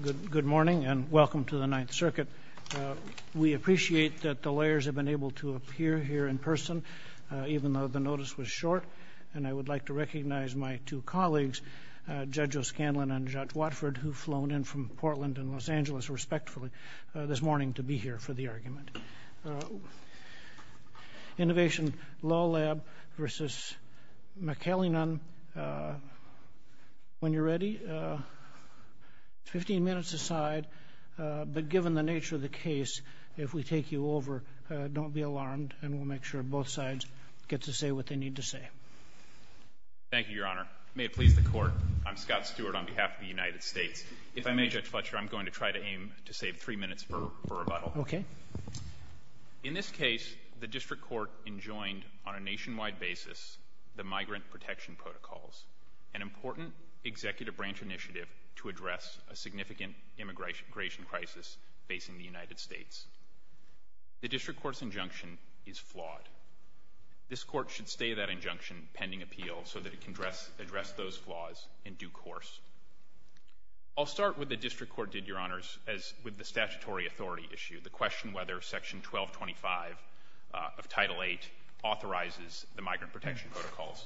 Good morning and welcome to the Ninth Circuit. We appreciate that the lawyers have been able to appear here in person even though the notice was short and I would like to recognize my two colleagues Judge O'Scanlan and Judge Watford who've flown in from Portland and Los Angeles respectfully this morning to be here for the argument. Innovation Law Lab v. McAleenan, when you're 15 minutes aside but given the nature of the case if we take you over don't be alarmed and we'll make sure both sides get to say what they need to say. Thank you Your Honor. May it please the court I'm Scott Stewart on behalf of the United States. If I may Judge Fletcher I'm going to try to aim to save three minutes for rebuttal. Okay. In this case the district court enjoined on a nationwide basis the migrant protection protocols an important executive branch initiative to address a significant immigration crisis facing the United States. The district court's injunction is flawed. This court should stay that injunction pending appeal so that it can address address those flaws in due course. I'll start with the district court did Your Honor's as with the statutory authority issue the question whether section 1225 of title 8 authorizes the migrant protection protocols.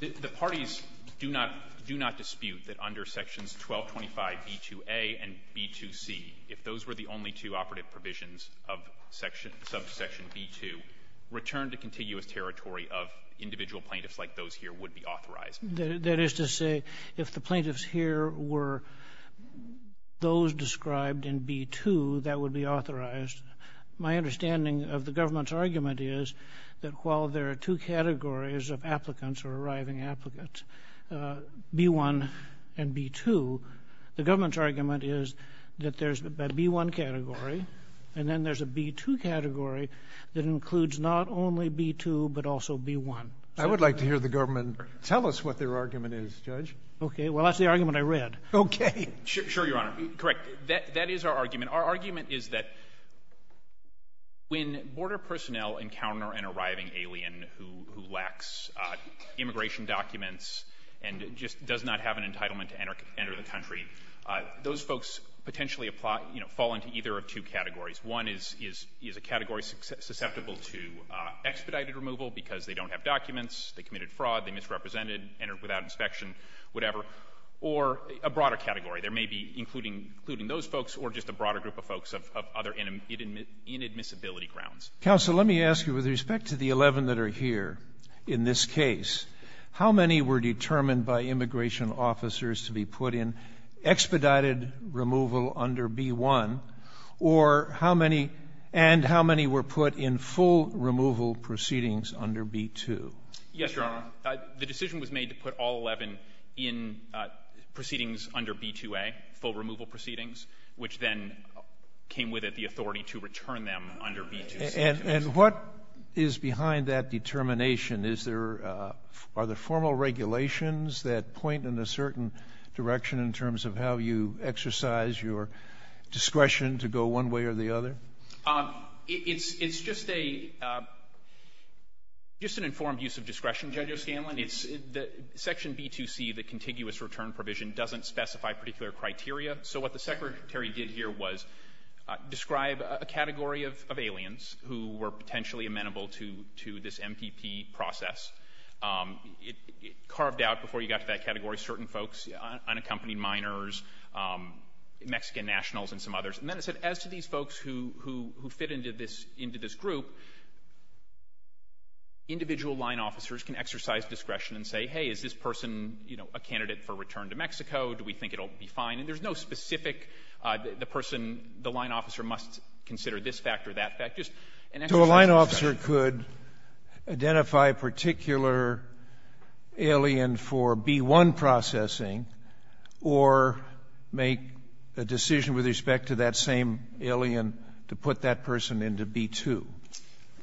The parties do not do not dispute that under sections 1225 B2a and B2c if those were the only two operative provisions of section subsection B2 return to continuous territory of individual plaintiffs like those here would be authorized. That is to say if the plaintiffs here were those described in B2 that would be authorized. My understanding of the government's argument is that while there are two categories of applicants or arriving applicants B1 and B2 the government's argument is that there's a B1 category and then there's a B2 category that includes not only B2 but also B1. I would like to hear the government tell us what their argument is judge. Okay well that's the argument I read. Okay sure Your Honor correct that that is our argument our argument is that when border personnel encounter an arriving alien who lacks immigration documents and just does not have an entitlement to enter enter the country those folks potentially apply you know fall into either of two categories one is is is a category susceptible to expedited removal because they don't have documents they committed fraud they misrepresented entered without inspection whatever or a broader category there may be including including those folks or just a broader group of folks of other inadmissibility grounds. Counselor let me ask you with respect to the 11 that are here in this case how many were determined by immigration officers to be put in expedited removal under B1 or how many and how many were put in full removal proceedings under B2. Yes Your Honor the decision was made to put all 11 in proceedings under B2A full removal proceedings which then came with it the authority to return them under B2C. And what is behind that determination is there are the formal regulations that point in a certain direction in terms of how you exercise your discretion to go one way or the other? It's it's just a just an informed use of discretion Judge O'Scanlan it's the section B2C the contiguous return provision doesn't specify particular criteria so what the secretary did here was describe a category of aliens who were potentially amenable to to this MPP process. It carved out before you got to that category certain folks unaccompanied minors Mexican nationals and some others and then it said as to these folks who who who fit into this into this group individual line officers can exercise discretion and say hey is this person you know a candidate for return to we think it'll be fine and there's no specific the person the line officer must consider this fact or that fact. Just an exercise of discretion. So a line officer could identify a particular alien for B1 processing or make a decision with respect to that same alien to put that person into B2.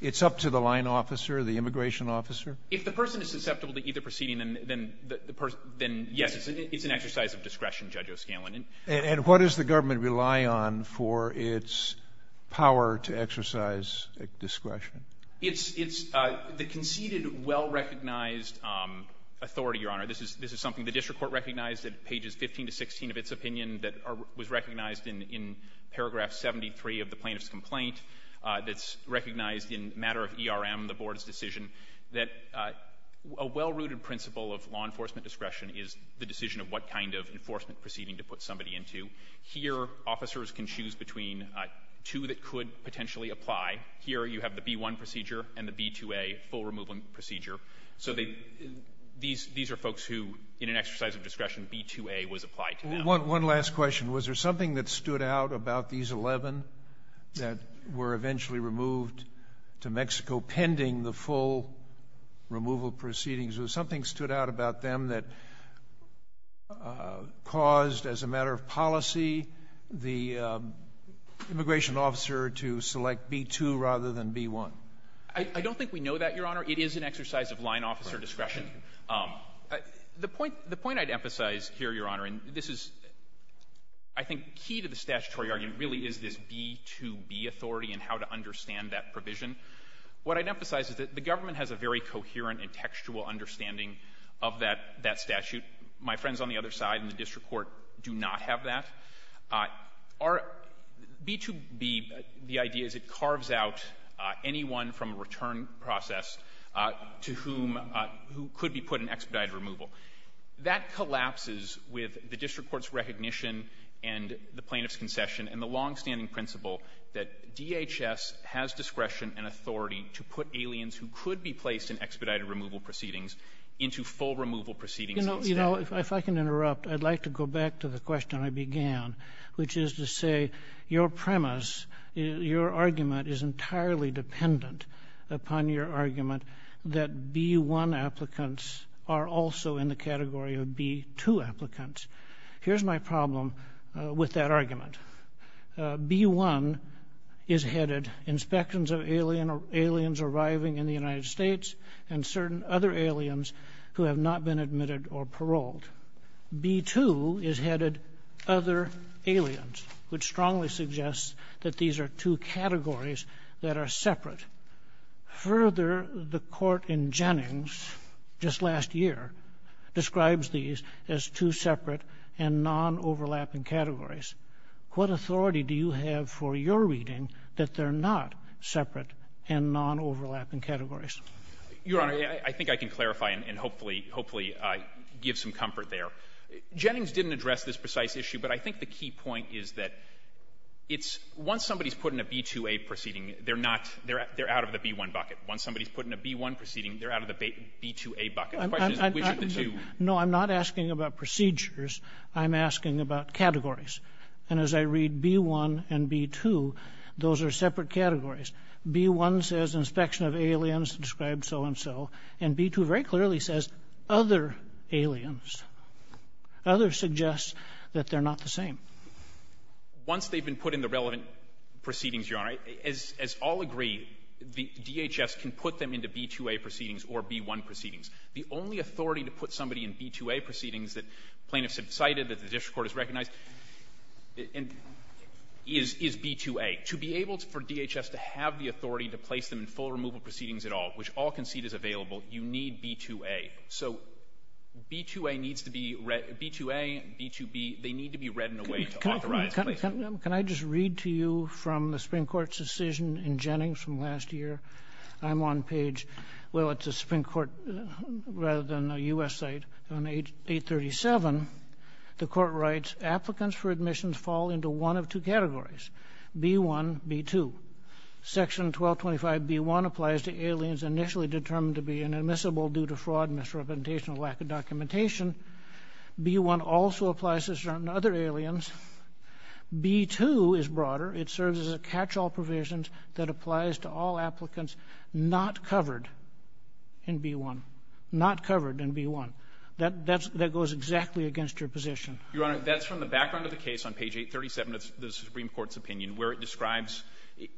It's up to the line officer the immigration officer? If the person is susceptible to either proceeding then then the person then yes it's an exercise of discretion Judge O'Scanlan. And what does the government rely on for its power to exercise discretion? It's it's the conceded well-recognized authority your honor this is this is something the district court recognized at pages 15 to 16 of its opinion that was recognized in in paragraph 73 of the plaintiff's complaint that's recognized in matter of ERM the board's decision that a well-rooted principle of law enforcement discretion is the decision of what kind of enforcement proceeding to put somebody into. Here officers can choose between two that could potentially apply. Here you have the B1 procedure and the B2A full removal procedure. So they these these are folks who in an exercise of discretion B2A was applied. One last question was there something that stood out about these 11 that were eventually removed to Mexico pending the full removal proceedings was something stood out about them that caused as a matter of policy the immigration officer to select B2 rather than B1? I don't think we know that your honor it is an exercise of line officer discretion. The point the point I'd emphasize here your honor and this is I think key to the statutory argument really is this B2B authority and how to emphasize is that the government has a very coherent and textual understanding of that that statute. My friends on the other side in the district court do not have that. Our B2B the idea is it carves out anyone from a return process to whom who could be put in expedited removal. That collapses with the district court's recognition and the plaintiff's concession and the long-standing principle that DHS has discretion and authority to put aliens who could be placed in expedited removal proceedings into full removal proceedings. You know you know if I can interrupt I'd like to go back to the question I began which is to say your premise your argument is entirely dependent upon your argument that B1 applicants are also in the category of B2 applicants. Here's my problem with that argument. B1 is headed inspections of alien or aliens arriving in the United States and certain other aliens who have not been admitted or paroled. B2 is headed other aliens which strongly suggests that these are two categories that are separate. Further the court in Jennings just last year describes these as two separate and non-overlapping categories. What authority do you have for your reading that they're not separate and non-overlapping categories? Your Honor I think I can clarify and hopefully hopefully I give some comfort there. Jennings didn't address this precise issue but I think the key point is that it's once somebody's put in a B2A proceeding they're not they're out of the B1 bucket. Once somebody's put in a B1 proceeding they're out of the B2A bucket. The question is I'm not asking about procedures I'm asking about categories and as I read B1 and B2 those are separate categories. B1 says inspection of aliens described so-and-so and B2 very clearly says other aliens. Others suggest that they're not the same. Once they've been put in the relevant proceedings, Your Honor, as all agree the DHS can put them into B2A proceedings or B1 proceedings. The only authority to put somebody in B2A proceedings that plaintiffs have cited that the district court has recognized is B2A. To be able for DHS to have the authority to place them in full removal proceedings at all, which all concede is available, you need B2A. So B2A needs to be read B2A, B2B they need to be read in a way to authorize. Can I just read to you from the Supreme Court's decision in Jennings from last year? I'm on page, well it's a Supreme Court rather than a U.S. site, on page 837. The court writes, applicants for admissions fall into one of two categories, B1, B2. Section 1225B1 applies to aliens initially determined to be inadmissible due to fraud, misrepresentation, or lack of documentation. B1 also applies to certain other aliens. B2 is broader. It serves as a catch-all provision that applies to all applicants not covered in B1, not covered in B1. That goes exactly against your position. Your Honor, that's from the background of the case on page 837 of the Supreme Court's opinion where it describes, you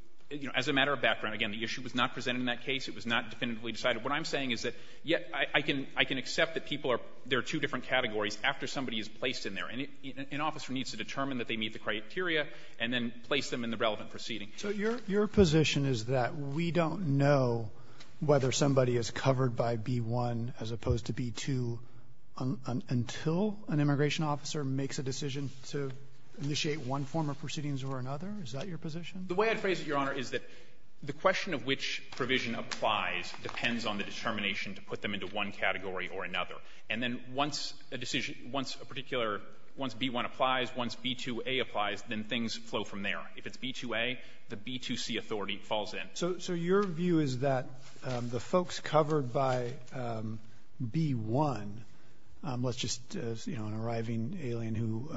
know, as a matter of background. Again, the issue was not presented in that case. It was not definitively decided. What I'm saying is that, yes, I can accept that people are, there are two different categories after somebody is placed in there. And an officer needs to determine that they meet the criteria and then place them in the relevant proceeding. So your position is that we don't know whether somebody is covered by B1 as opposed to B2 until an immigration officer makes a decision to initiate one form of proceedings or another? Is that your position? The way I'd phrase it, Your Honor, is that the question of which provision applies depends on the determination to put them into one category or another. And then once a decision, once a particular, once B1 applies, once B2a applies, then things flow from there. If it's B2a, the B2c authority falls in. So your view is that the folks covered by B1, let's just, you know, an arriving alien who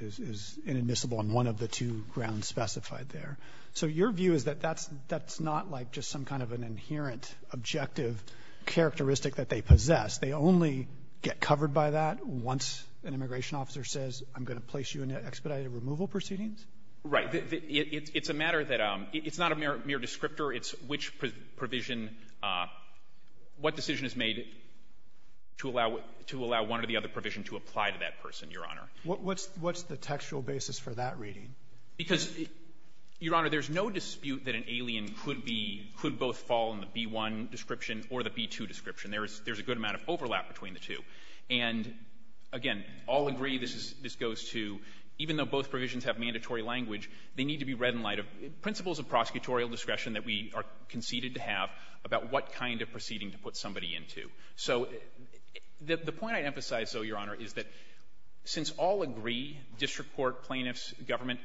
is inadmissible on one of the two grounds specified there, so your view is that that's not like just some kind of an inherent objective characteristic that they possess. They only get covered by that once an immigration officer says, I'm going to place you in an expedited removal proceedings? Right. It's a matter that, it's not a mere descriptor. It's which provision, what decision is made to allow one or the other provision to apply to that person, Your Honor. What's the textual basis for that reading? Because, Your Honor, there's no dispute that an alien could be, could both fall in the B1 description or the B2 description. There's a good amount of overlap between the two. And again, all agree this goes to, even though both provisions have mandatory language, they need to be read in light of principles of prosecutorial discretion that we are conceded to have about what kind of proceeding to put somebody into. So the point I emphasize, though, Your Honor, is that since all agree, district court, plaintiffs, government,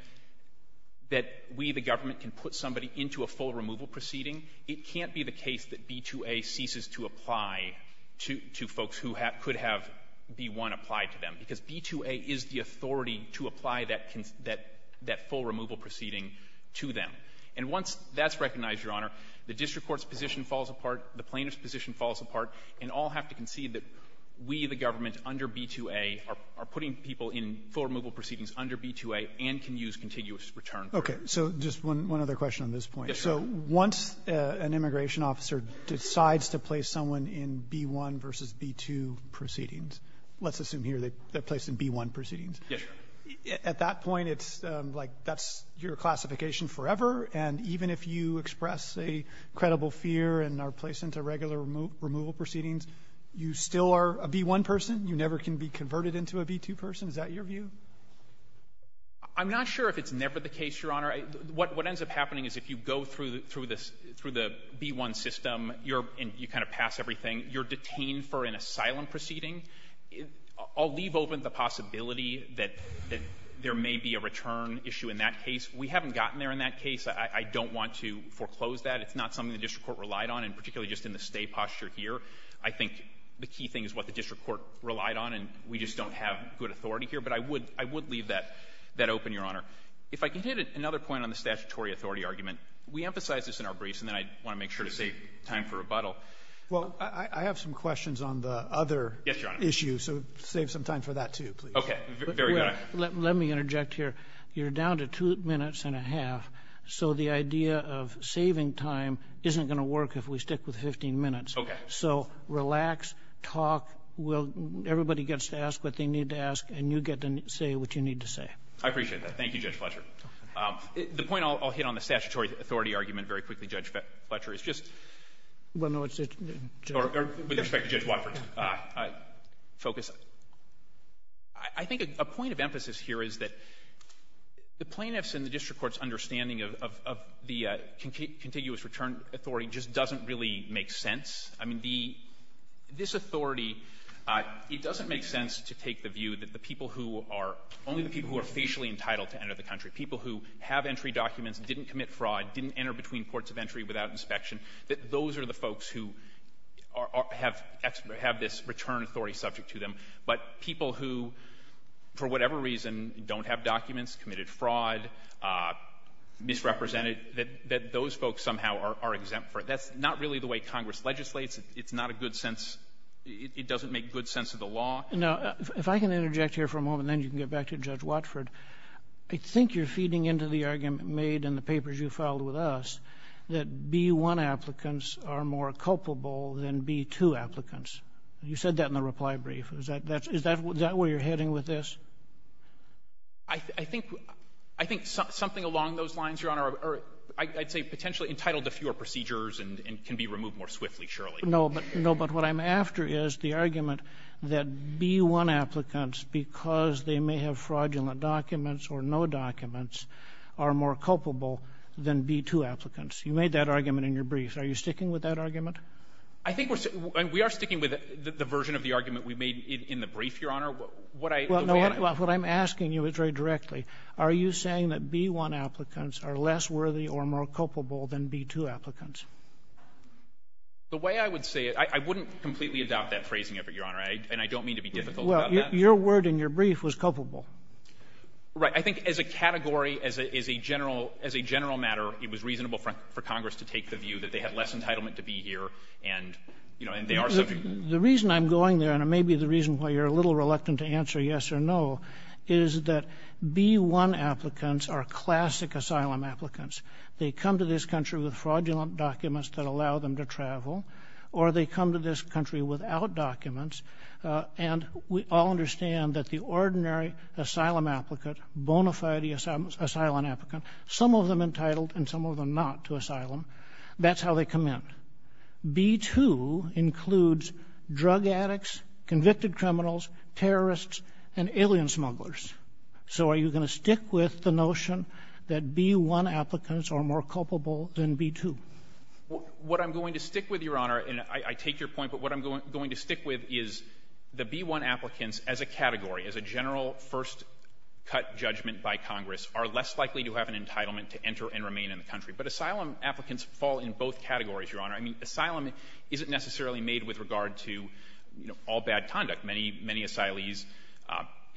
that we, the government, can put somebody into a full removal proceeding, it can't be the case that B2A ceases to apply to folks who could have B1 applied to them. Because B2A is the authority to apply that full removal proceeding to them. And once that's recognized, Your Honor, the district court's position falls apart, the plaintiff's position falls apart, and all have to concede that we, the government, under B2A, are putting people in full removal proceedings under B2A and can use contiguous return. Roberts. Okay. So just one other question on this point. So once an immigration officer decides to place someone in B1 versus B2 proceedings, let's assume here they're placed in B1 proceedings. Yes, Your Honor. At that point, it's like that's your classification forever. And even if you express a credible fear and are placed into regular removal proceedings, you still are a B1 person. You never can be converted into a B2 person. Is that your view? I'm not sure if it's never the case, Your Honor. What ends up happening is if you go through the B1 system, and you kind of pass everything, you're detained for an asylum proceeding. I'll leave open the possibility that there may be a return issue in that case. We haven't gotten there in that case. I don't want to foreclose that. It's not something the district court relied on, and particularly just in the stay posture here. I think the key thing is what the district court relied on, and we just don't have good authority here. But I would leave that open, Your Honor. If I could hit another point on the statutory authority argument, we emphasize this in our briefs, and then I want to make sure to save time for rebuttal. Well, I have some questions on the other issue, so save some time for that, too, please. Okay. Very good. Let me interject here. You're down to two minutes and a half, so the idea of saving time isn't going to work if we stick with 15 minutes. So relax, talk. Everybody gets to ask what they need to ask, and you get to say what you need to say. I appreciate that. Thank you, Judge Fletcher. The point I'll hit on the statutory authority argument very quickly, Judge Fletcher, is just — Well, no, it's — Or with respect to Judge Watford. Focus. I think a point of emphasis here is that the plaintiffs and the district court's understanding of the contiguous return authority just doesn't really make sense. I mean, the — this authority, it doesn't make sense to take the view that the people who are — only the people who are facially entitled to enter the country, people who have entry documents, didn't commit fraud, didn't enter between courts of entry without inspection, that those are the folks who have this return authority subject to them. But people who, for whatever reason, don't have documents, committed fraud, misrepresented, that those folks somehow are exempt for it. That's not really the way Congress legislates. It's not a good sense — it doesn't make good sense of the law. No. If I can interject here for a moment, and then you can get back to Judge Watford, I think you're feeding into the argument made in the papers you filed with us that B-1 applicants are more culpable than B-2 applicants. You said that in the reply brief. Is that — is that where you're heading with this? I think — I think something along those lines, Your Honor, or I'd say potentially entitled to fewer procedures and can be removed more swiftly, surely. No, but — no, but what I'm after is the argument that B-1 applicants, because they may have fraudulent documents or no documents, are more culpable than B-2 applicants. You made that argument in your brief. Are you sticking with that argument? I think we're — we are sticking with the version of the argument we made in the brief, Your Honor. What I — Well, no, what I'm asking you is very directly, are you saying that B-1 applicants are less worthy or more culpable than B-2 applicants? The way I would say it — I wouldn't completely adopt that phrasing of it, Your Honor, and I don't mean to be difficult about that. Well, your word in your brief was culpable. Right. I think as a category, as a — as a general — as a general matter, it was reasonable for Congress to take the view that they had less entitlement to be here and, you know, and they are subject to — The reason I'm going there, and it may be the reason why you're a little reluctant to answer yes or no, is that B-1 applicants are classic asylum applicants. They come to this country with fraudulent documents that allow them to travel, or they come to this country without documents. And we all understand that the ordinary asylum applicant, bona fide asylum applicant, some of them entitled and some of them not to asylum, that's how they come in. B-2 includes drug addicts, convicted criminals, terrorists, and alien smugglers. So are you going to stick with the notion that B-1 applicants are more culpable than B-2? What I'm going to stick with, Your Honor, and I take your point, but what I'm going to stick with is the B-1 applicants as a category, as a general first-cut judgment by Congress, are less likely to have an entitlement to enter and remain in the country. But asylum applicants fall in both categories, Your Honor. I mean, asylum isn't necessarily made with regard to, you know, all bad conduct. Many, many asylees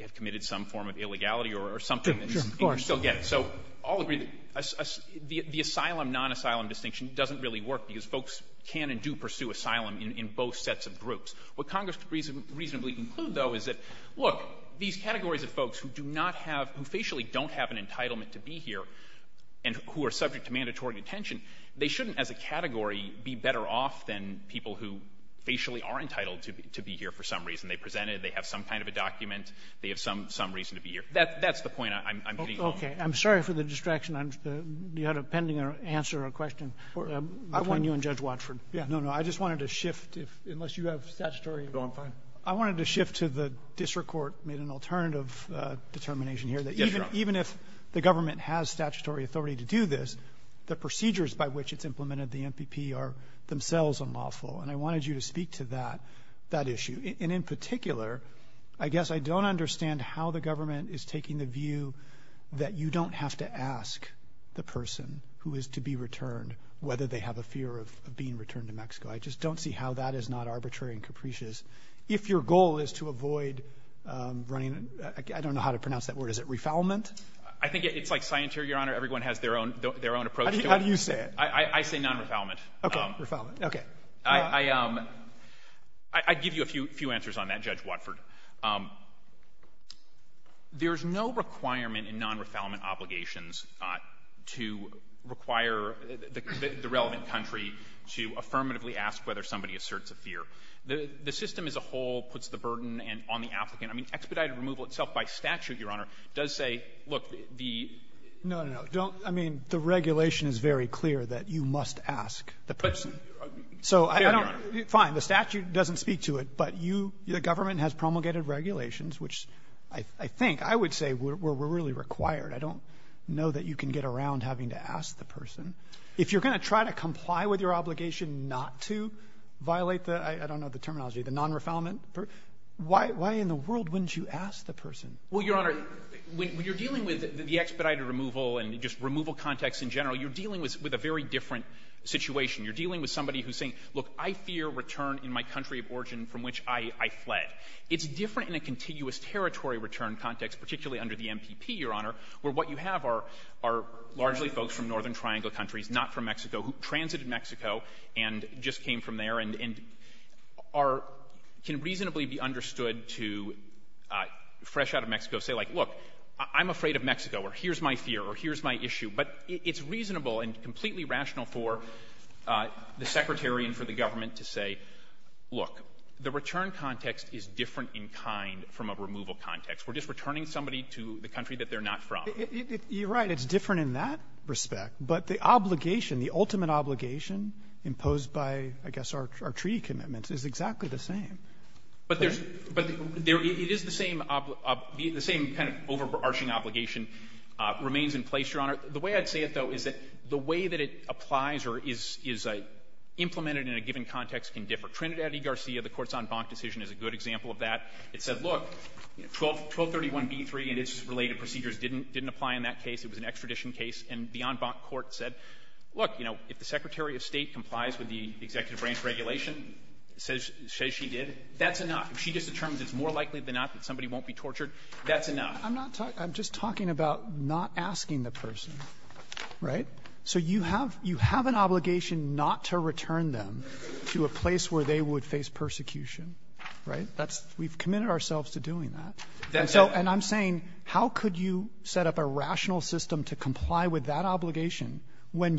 have committed some form of illegality or something that you Sure. Of course. So I'll agree that the asylum, non-asylum distinction doesn't really work because folks can and do pursue asylum in both sets of groups. What Congress could reasonably include, though, is that, look, these categories of folks who do not have — who facially don't have an entitlement to be here and who are subject to mandatory detention, they shouldn't, as a category, be better off than people who facially are entitled to be here for some reason. They presented, they have some kind of a document, they have some reason to be here. That's the point I'm getting at. Okay. I'm sorry for the distraction. You had a pending answer or question between you and Judge Watford. Yeah. No, no. I just wanted to shift if — unless you have statutory — No, I'm fine. I wanted to shift to the district court made an alternative determination here that even if the government has statutory authority to do this, the procedures by which it's implemented, the MPP, are themselves unlawful. And I wanted you to speak to that issue. And in particular, I guess I don't understand how the government is taking the view that you don't have to ask the person who is to be returned whether they have a fear of being returned to Mexico. I just don't see how that is not arbitrary and capricious. If your goal is to avoid running — I don't know how to pronounce that word. Is it refoulement? I think it's like scienter, Your Honor. Everyone has their own approach to it. How do you say it? I say non-refoulement. Okay. Refoulement. Okay. I'd give you a few answers on that, Judge Watford. There's no requirement in non-refoulement obligations to require the relevant country to affirmatively ask whether somebody asserts a fear. The system as a whole puts the burden on the applicant. I mean, expedited removal itself by statute, Your Honor, does say, look, the — No, no, no. Don't — I mean, the regulation is very clear that you must ask the person. So I don't — Fair, Your Honor. Fine. The statute doesn't speak to it, but you — the government has promulgated regulations, which I think I would say were really required. I don't know that you can get around having to ask the person. If you're going to try to comply with your obligation not to violate the — I don't know the terminology — the non-refoulement, why in the world wouldn't you ask the person? Well, Your Honor, when you're dealing with the expedited removal and just removal context in general, you're dealing with a very different situation. You're dealing with somebody who's saying, look, I fear return in my country of origin from which I fled. It's different in a contiguous territory return context, particularly under the MPP, Your Honor, where what you have are largely folks from Northern Triangle countries, not from Mexico, who transited Mexico and just came from there and are — can reasonably be understood to, fresh out of Mexico, say, like, look, I'm afraid of Mexico, or here's my fear, or here's my issue. But it's reasonable and completely rational for the Secretary and for the government to say, look, the return context is different in kind from a removal context. We're just returning somebody to the country that they're not from. You're right. It's different in that respect. But the obligation, the ultimate obligation imposed by, I guess, our treaty commitments, is exactly the same. But there's — but it is the same — the same kind of overarching obligation remains in place, Your Honor. The way I'd say it, though, is that the way that it applies or is implemented in a given context can differ. Trinidad v. Garcia, the Court's en banc decision, is a good example of that. It said, look, 1231b3 and its related procedures didn't apply in that case. It was an extradition case. And the en banc court said, look, you know, if the Secretary of State complies with the executive branch regulation, says she did, that's enough. If she just determines it's more likely than not that somebody won't be tortured, that's enough. I'm not — I'm just talking about not asking the person. Right? So you have an obligation not to return them to a place where they would face persecution. Right? That's — we've committed ourselves to doing that. And so — and I'm saying, how could you set up a rational system to comply with that when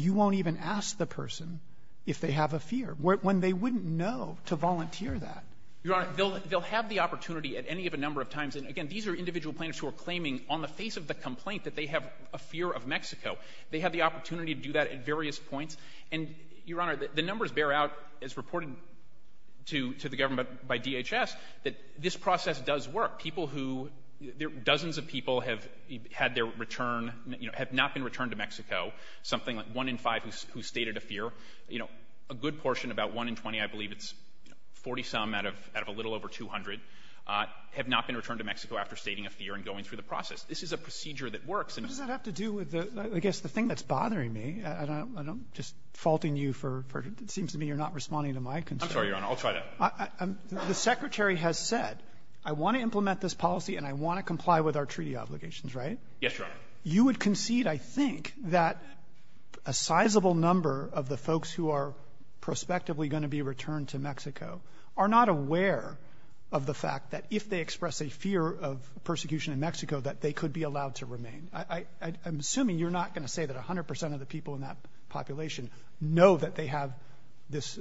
they wouldn't know to volunteer that? Your Honor, they'll have the opportunity at any of a number of times. And, again, these are individual plaintiffs who are claiming on the face of the complaint that they have a fear of Mexico. They have the opportunity to do that at various points. And, Your Honor, the numbers bear out, as reported to the government by DHS, that this process does work. People who — dozens of people have had their return — you know, have not been returned to Mexico, something like one in five who stated a fear. You know, a good portion, about one in 20, I believe it's 40-some out of a little over 200, have not been returned to Mexico after stating a fear and going through the process. This is a procedure that works. What does that have to do with the — I guess the thing that's bothering me, and I'm just faulting you for — it seems to me you're not responding to my concern. I'm sorry, Your Honor. I'll try that. The Secretary has said, I want to implement this policy, and I want to comply with our treaty obligations. Right? Yes, Your Honor. You would concede, I think, that a sizable number of the folks who are prospectively going to be returned to Mexico are not aware of the fact that if they express a fear of persecution in Mexico that they could be allowed to remain. I'm assuming you're not going to say that 100 percent of the people in that population know that they have this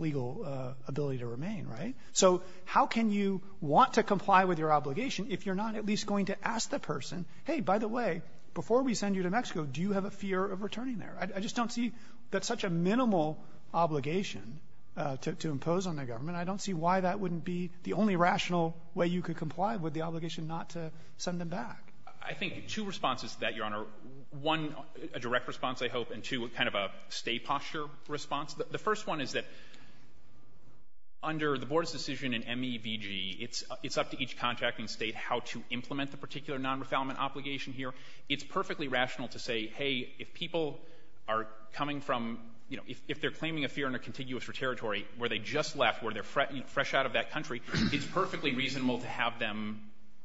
legal ability to remain, right? So how can you want to comply with your obligation if you're not at least going to ask the person, hey, by the way, before we send you to Mexico, do you have a fear of returning there? I just don't see that's such a minimal obligation to impose on the government. I don't see why that wouldn't be the only rational way you could comply with the obligation not to send them back. I think two responses to that, Your Honor. One, a direct response, I hope, and two, kind of a state posture response. The first one is that under the board's decision in MEVG, it's up to each contracting state how to implement the particular non-refoulement obligation here. It's perfectly rational to say, hey, if people are coming from, you know, if they're claiming a fear in a contiguous territory where they just left, where they're fresh out of that country, it's perfectly reasonable to have them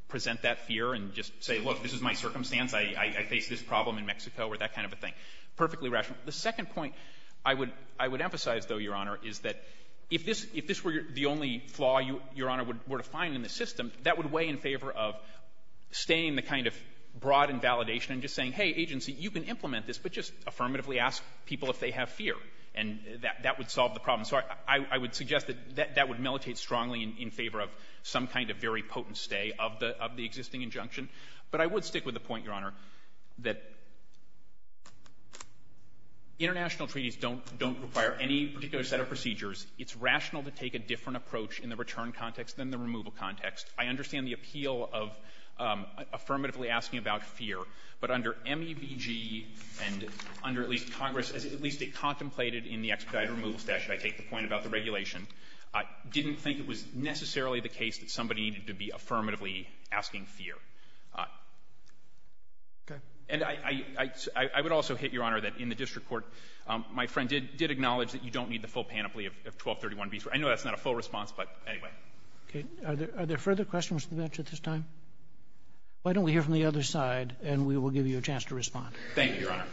present that fear and just say, look, this is my circumstance, I face this problem in Mexico or that kind of a thing. Perfectly rational. The second point I would emphasize, though, Your Honor, is that if this were the only flaw Your Honor were to find in the system, that would weigh in favor of staying the kind of broad invalidation and just saying, hey, agency, you can implement this, but just affirmatively ask people if they have fear. And that would solve the problem. So I would suggest that that would militate strongly in favor of some kind of very potent stay of the existing injunction. But I would stick with the point, Your Honor, that international treaties don't require any particular set of procedures. It's rational to take a different approach in the return context than the removal context. I understand the appeal of affirmatively asking about fear. But under MEBG and under at least Congress, at least it contemplated in the expedited removal statute, I take the point about the regulation, didn't think it was necessarily the case that somebody needed to be affirmatively asking fear. And I would also hit, Your Honor, that in the district court, my friend did acknowledge that you don't need the full panoply of 1231B. I know that's not a full response, but anyway. Are there further questions to the bench at this time? Why don't we hear from the other side and we will give you a chance to respond. Thank you, Your Honor.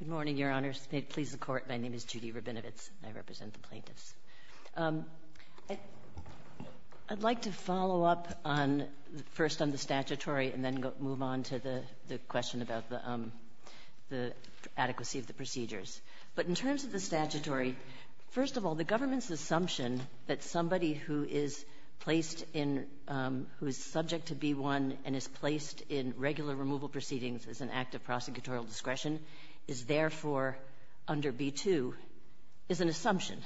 Good morning, Your Honors. May it please the Court, my name is Judy Rabinowitz and I represent the plaintiffs. I'd like to follow up on first on the statutory and then move on to the question about the adequacy of the procedures. But in terms of the statutory, first of all, the government's assumption that somebody who is placed in — who is subject to B-1 and is placed in regular removal proceedings as an act of prosecutorial discretion is therefore under B-2 is an assumption.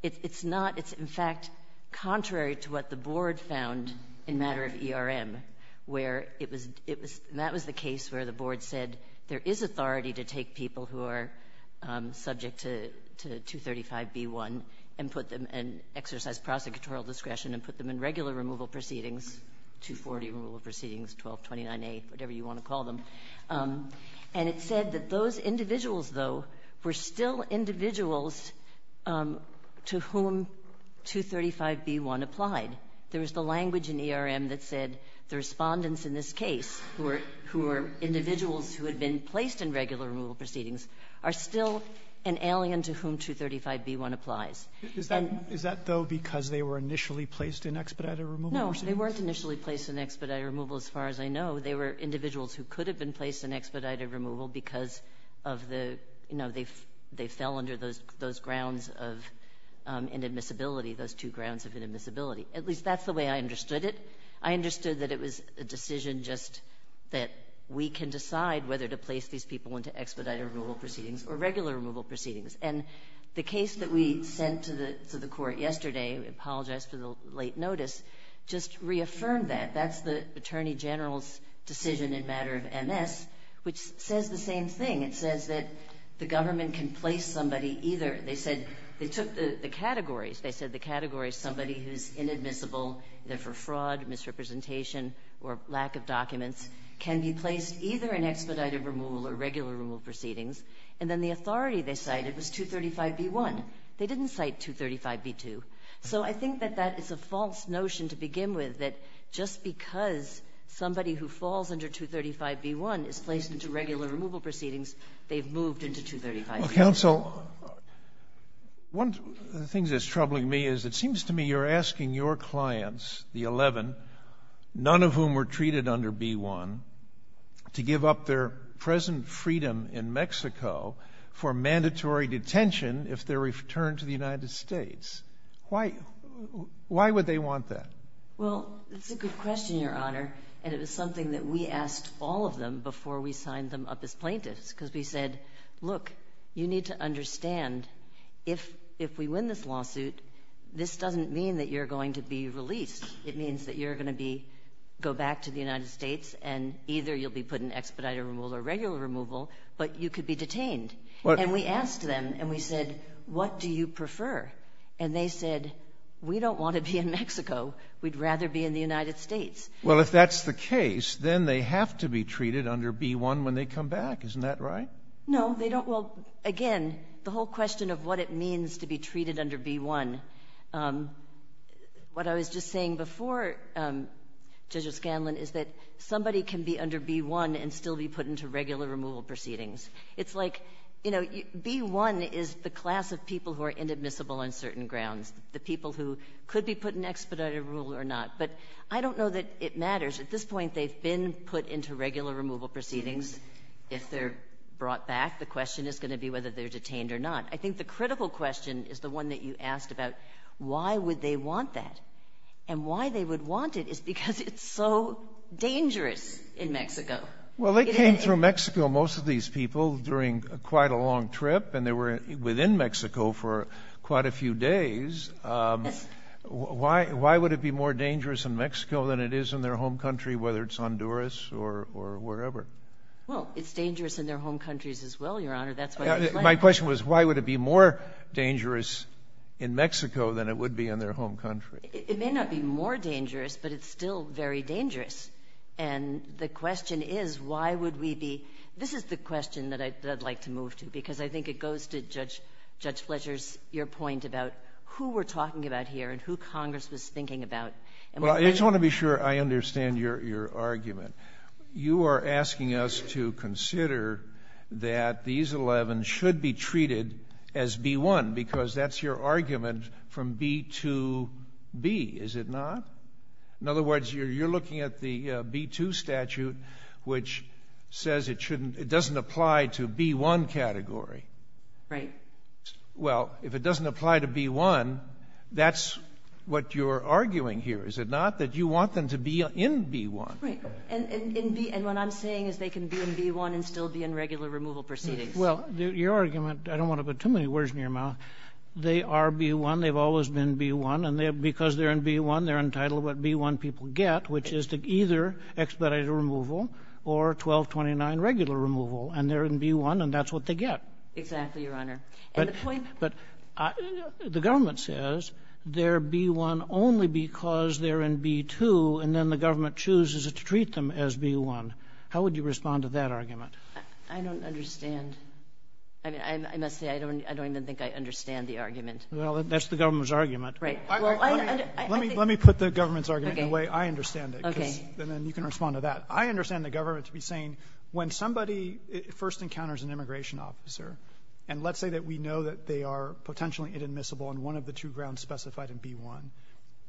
It's not. It's, in fact, contrary to what the Board found in matter of ERM, where it was — and that was the case where the Board said there is authority to take people who are subject to 235B-1 and put them — and exercise prosecutorial discretion and put them in regular removal proceedings, 240 removal proceedings, 1229A, whatever you want to call them. And it said that those individuals, though, were still individuals to whom the 235B-1 applied. There was the language in ERM that said the Respondents in this case, who were individuals who had been placed in regular removal proceedings, are still an alien to whom 235B-1 applies. Is that, though, because they were initially placed in expedited removal proceedings? No. They weren't initially placed in expedited removal, as far as I know. They were individuals who could have been placed in expedited removal because of the — you know, they fell under those grounds of inadmissibility, those two grounds of inadmissibility. At least that's the way I understood it. I understood that it was a decision just that we can decide whether to place these people into expedited removal proceedings or regular removal proceedings. And the case that we sent to the Court yesterday — I apologize for the late notice — just reaffirmed that. That's the Attorney General's decision in matter of MS, which says the same thing. It says that the government can place somebody either — they said they took the categories. They said the category is somebody who's inadmissible, either for fraud, misrepresentation, or lack of documents, can be placed either in expedited removal or regular removal proceedings. And then the authority they cited was 235B-1. They didn't cite 235B-2. So I think that that is a false notion to begin with, that just because somebody who falls under 235B-1 is placed into regular removal proceedings, they've moved into 235B-1. Well, counsel, one of the things that's troubling me is it seems to me you're asking your clients, the 11, none of whom were treated under B-1, to give up their present freedom in Mexico for mandatory detention if they're returned to the United States. Why would they want that? Well, it's a good question, Your Honor. And it was something that we asked all of them before we signed them up as plaintiffs because we said, look, you need to understand if we win this lawsuit, this doesn't mean that you're going to be released. It means that you're going to be — go back to the United States, and either you'll be put in expedited removal or regular removal, but you could be detained. And we asked them, and we said, what do you prefer? And they said, we don't want to be in Mexico. We'd rather be in the United States. Well, if that's the case, then they have to be treated under B-1 when they come back. Isn't that right? No, they don't. Well, again, the whole question of what it means to be treated under B-1, what I was just saying before, Judge O'Scanlan, is that somebody can be under B-1 and still be put into regular removal proceedings. It's like, you know, B-1 is the class of people who are inadmissible on certain grounds, the people who could be put in expedited removal or not. But I don't know that it matters. At this point, they've been put into regular removal proceedings. If they're brought back, the question is going to be whether they're detained or not. I think the critical question is the one that you asked about why would they want that. And why they would want it is because it's so dangerous in Mexico. Well, they came through Mexico, most of these people, during quite a long trip. And they were within Mexico for quite a few days. Why would it be more dangerous in Mexico than it is in their home country, whether it's Honduras or wherever? Well, it's dangerous in their home countries as well, Your Honor. That's what it's like. My question was, why would it be more dangerous in Mexico than it would be in their home country? It may not be more dangerous, but it's still very dangerous. And the question is, why would we be — this is the question that I'd like to move to, because I think it goes to Judge Fletcher's — your point about who we're talking about here and who Congress was thinking about. Well, I just want to be sure I understand your argument. You are asking us to consider that these 11 should be treated as B-1, because that's your argument from B-2-B, is it not? In other words, you're looking at the B-2 statute, which says it shouldn't — it doesn't apply to B-1 category. Right. Well, if it doesn't apply to B-1, that's what you're arguing here, is it not, that you want them to be in B-1? Right. And what I'm saying is they can be in B-1 and still be in regular removal proceedings. Well, your argument — I don't want to put too many words in your mouth. They are B-1. They've always been B-1. And because they're in B-1, they're entitled to what B-1 people get, which is to either expedited removal or 1229 regular removal. And they're in B-1, and that's what they get. Exactly, Your Honor. And the point — But the government says they're B-1 only because they're in B-2, and then the government chooses to treat them as B-1. How would you respond to that argument? I don't understand. I mean, I must say, I don't even think I understand the argument. Well, that's the government's argument. Right. Let me put the government's argument in a way I understand it. Okay. And then you can respond to that. I understand the government to be saying when somebody first encounters an immigration officer, and let's say that we know that they are potentially inadmissible on one of the two grounds specified in B-1,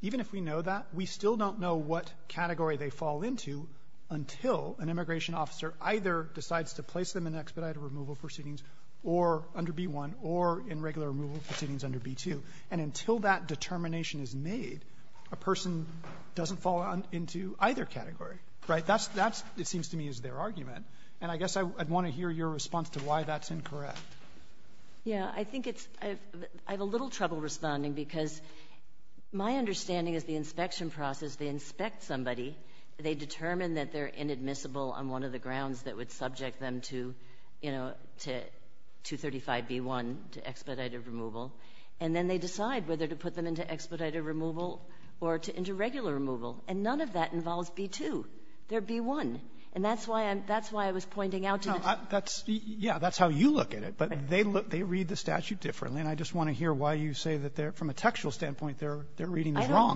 even if we know that, we still don't know what category they fall into until an immigration officer either decides to place them in expedited removal proceedings or under B-1 or in regular removal proceedings under B-2. And until that determination is made, a person doesn't fall into either category. Right? That's — it seems to me is their argument. And I guess I'd want to hear your response to why that's incorrect. Yeah. I think it's — I have a little trouble responding because my understanding is the inspection process, they inspect somebody, they determine that they're inadmissible on one of the grounds that would subject them to, you know, to 235B-1, to expedited removal, and then they decide whether to put them into expedited removal or to into regular removal. And none of that involves B-2. They're B-1. And that's why I'm — that's why I was pointing out to the — No. That's — yeah, that's how you look at it. But they look — they read the statute differently. And I just want to hear why you say that they're — from a textual standpoint, their — their reading is wrong. I don't. I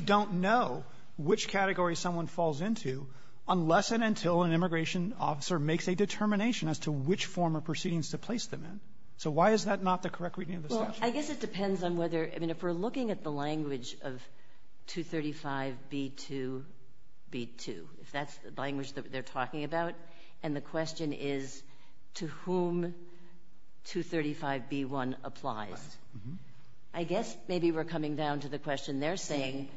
don't know which category someone falls into unless and until an immigration officer makes a determination as to which form of proceedings to place them in. So why is that not the correct reading of the statute? Well, I guess it depends on whether — I mean, if we're looking at the language of 235B-2B-2, if that's the language that they're talking about, and the question is to whom 235B-1 applies, I guess maybe we're coming down to the question they're saying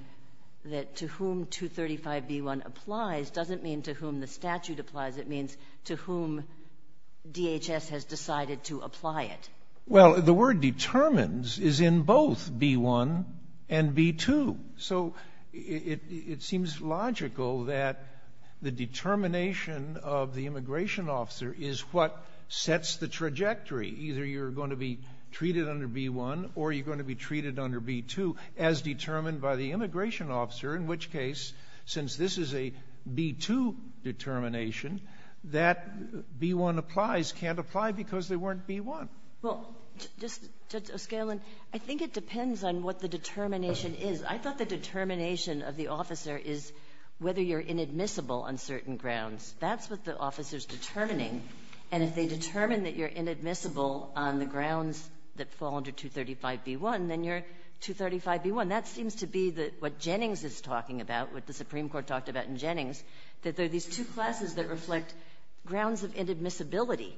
that to whom 235B-1 applies doesn't mean to whom the statute applies. It means to whom DHS has decided to apply it. Well, the word determines is in both B-1 and B-2. So it seems logical that the determination of the immigration officer is what sets the trajectory. Either you're going to be treated under B-1 or you're going to be treated under B-2, as determined by the immigration officer, in which case, since this is a B-2 determination, that B-1 applies can't apply because they weren't B-1. Well, Judge O'Scallion, I think it depends on what the determination is. I thought the determination of the officer is whether you're inadmissible on certain grounds. That's what the officer's determining. And if they determine that you're inadmissible on the grounds that fall under 235B-1, then you're 235B-1. That seems to be what Jennings is talking about, what the Supreme Court talked about in Jennings, that there are these two classes that reflect grounds of inadmissibility.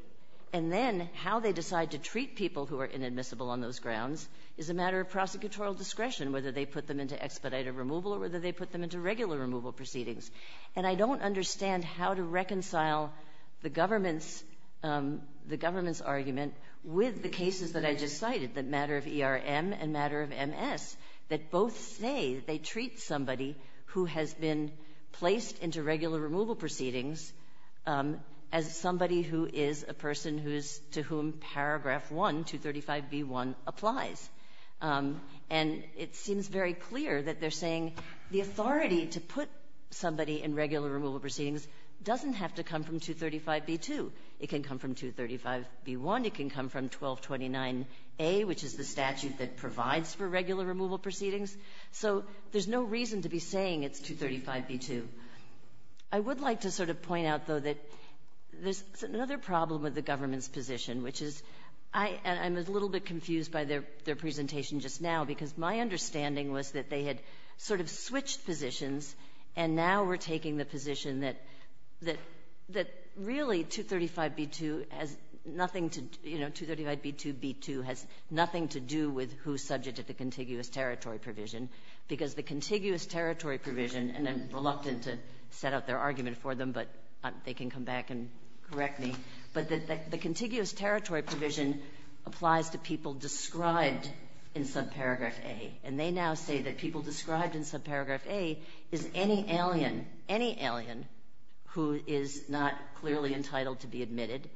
And then how they decide to treat people who are inadmissible on those grounds is a matter of prosecutorial discretion, whether they put them into expedited removal or whether they put them into regular removal proceedings. And I don't understand how to reconcile the government's argument with the cases that I just cited, the matter of ERM and matter of MS, that both say they treat somebody who has been placed into regular removal proceedings as somebody who is a person who is to whom paragraph 1, 235B-1, applies. And it seems very clear that they're saying the authority to put somebody in regular removal proceedings doesn't have to come from 235B-2. It can come from 235B-1. It can come from 1229A, which is the statute that provides for regular removal proceedings. So there's no reason to be saying it's 235B-2. I would like to sort of point out, though, that there's another problem with the government's position, which is I'm a little bit confused by their presentation just now, because my understanding was that they had sort of switched positions and now we're taking the position that really 235B-2 has nothing to do, you know, 235B-2B-2 has nothing to do with who's subject to the contiguous territory provision because the contiguous territory provision, and I'm reluctant to set out their argument for them, but they can come back and correct me, but the contiguous territory provision applies to people described in subparagraph A. And they now say that people described in subparagraph A is any alien, any alien who is not clearly entitled to be admitted,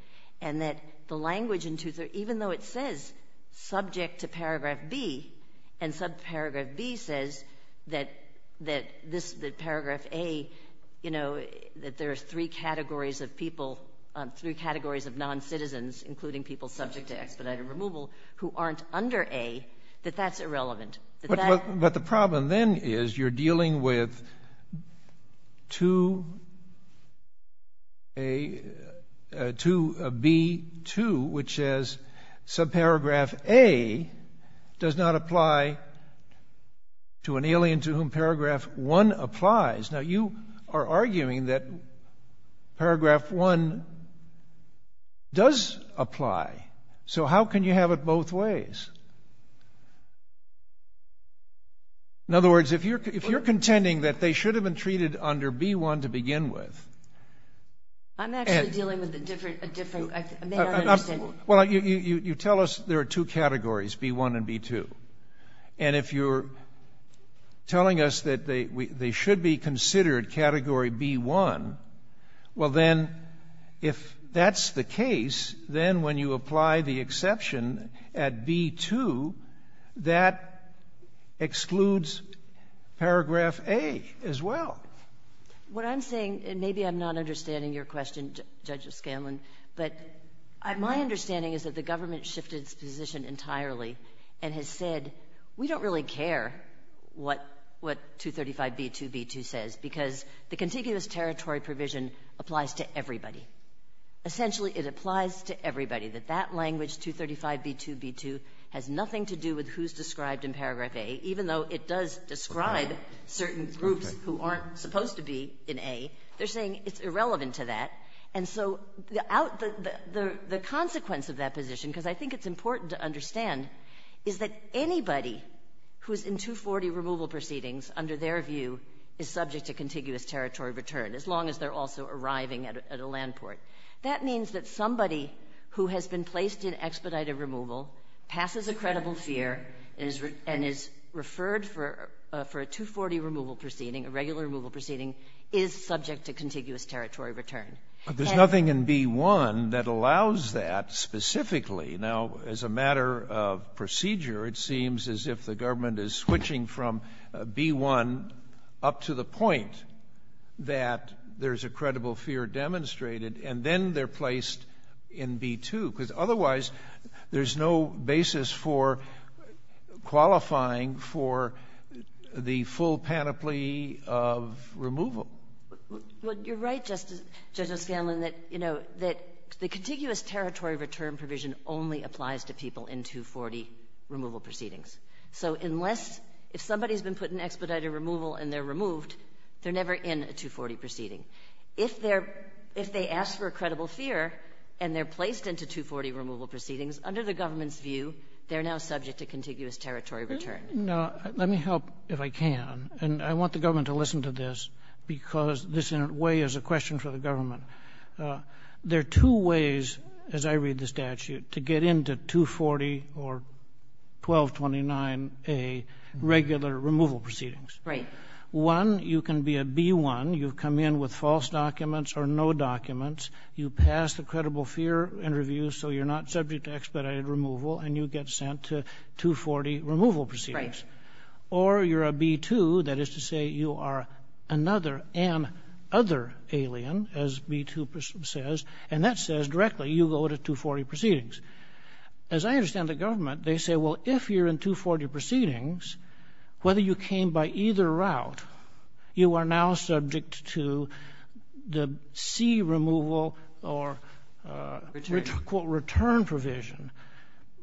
and that the language in 235B-2, even though it says subject to paragraph B and subparagraph B says that paragraph A, you know, that there are three categories of people, three categories of noncitizens, including people subject to expedited removal, who aren't under A, that that's irrelevant. But the problem then is you're dealing with 2A, 2B-2, which says subparagraph A does not apply to an alien to whom paragraph 1 applies. Now, you are arguing that paragraph 1 does apply. So how can you have it both ways? In other words, if you're contending that they should have been treated under B-1 to begin with... I'm actually dealing with a different... Well, you tell us there are two categories, B-1 and B-2. And if you're telling us that they should be considered category B-1, well, then if that's the case, then when you apply the exception at B-2, that excludes paragraph A as well. What I'm saying, and maybe I'm not understanding your question, Judge Scanlon, but my understanding is that the government shifted its position entirely and has said we don't really care what 235B, 2B-2 says, because the contiguous territory provision applies to everybody. Essentially, it applies to everybody, that that language, 235B, 2B-2, has nothing to do with who's described in paragraph A, even though it does describe certain groups who aren't supposed to be in A. They're saying it's irrelevant to that. And so the consequence of that position, because I think it's important to understand, is that anybody who's in 240 removal proceedings, under their view, is subject to contiguous territory return, as long as they're also arriving at a land port. That means that somebody who has been placed in expedited removal, passes a credible fear, and is referred for a 240 removal proceeding, a regular removal proceeding, is subject to contiguous territory return. But there's nothing in B-1 that allows that specifically. Now, as a matter of procedure, it seems as if the government is switching from B-1 up to the point that there's a credible fear demonstrated, and then they're placed in B-2, because otherwise there's no basis for qualifying for the full panoply of removal. Well, you're right, Judge O'Scanlan, that, you know, that the contiguous territory return provision only applies to people in 240 removal proceedings. So unless — if somebody's been put in expedited removal and they're removed, they're never in a 240 proceeding. If they're — if they ask for a credible fear and they're placed into 240 removal proceedings, under the government's view, they're now subject to contiguous territory return. Now, let me help, if I can. And I want the government to listen to this, because this, in a way, is a question for the government. There are two ways, as I read the statute, to get into 240 or 1229A regular removal proceedings. Right. One, you can be a B-1, you come in with false documents or no documents, you pass the credible fear interview so you're not subject to expedited removal, and you get sent to 240 removal proceedings. Right. Or you're a B-2, that is to say you are another — an other alien, as B-2 says, and that says directly you go to 240 proceedings. As I understand the government, they say, well, if you're in 240 proceedings, whether you came by either route, you are now subject to the C removal or — Return. Return provision.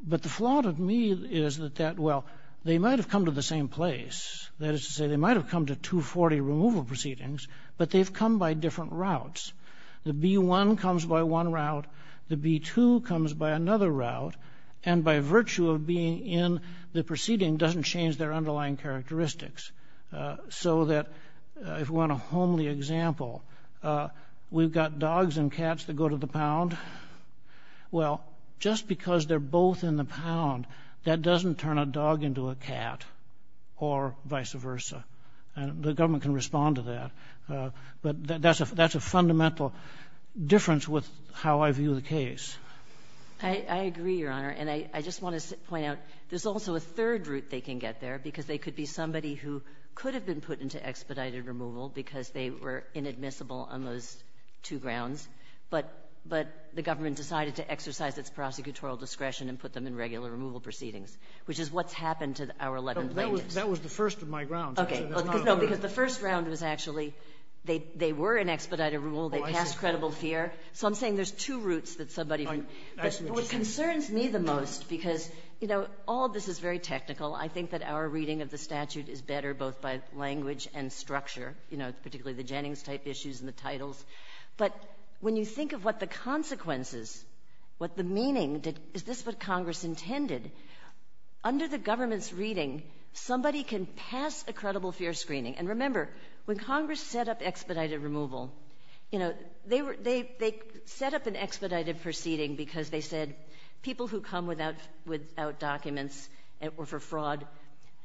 But the flaw to me is that that — well, they might have come to the same place. That is to say, they might have come to 240 removal proceedings, but they've come by different routes. The B-1 comes by one route, the B-2 comes by another route, and by virtue of being in the proceeding, doesn't change their underlying characteristics. So that, if we want a homely example, we've got dogs and cats that go to the pound. Well, just because they're both in the pound, that doesn't turn a dog into a cat or vice versa. And the government can respond to that. But that's a fundamental difference with how I view the case. I agree, Your Honor. And I just want to point out, there's also a third route they can get there, because they could be somebody who could have been put into expedited removal because they were inadmissible on those two grounds, but the government decided to exercise its prosecutorial discretion and put them in regular removal proceedings, which is what's happened to our 11 plaintiffs. That was the first of my grounds. Okay. No, because the first round was actually — they were in expedited rule, they passed credible fear. So I'm saying there's two routes that somebody — That's what you're saying. But what concerns me the most, because, you know, all of this is very technical, I think that our reading of the statute is better both by language and structure, you know, particularly the Jennings-type issues and the titles. But when you think of what the consequences, what the meaning — is this what Congress intended? Under the government's reading, somebody can pass a credible fear screening. And remember, when Congress set up expedited removal, you know, they set up an expedited proceeding because they said people who come without documents or for fraud,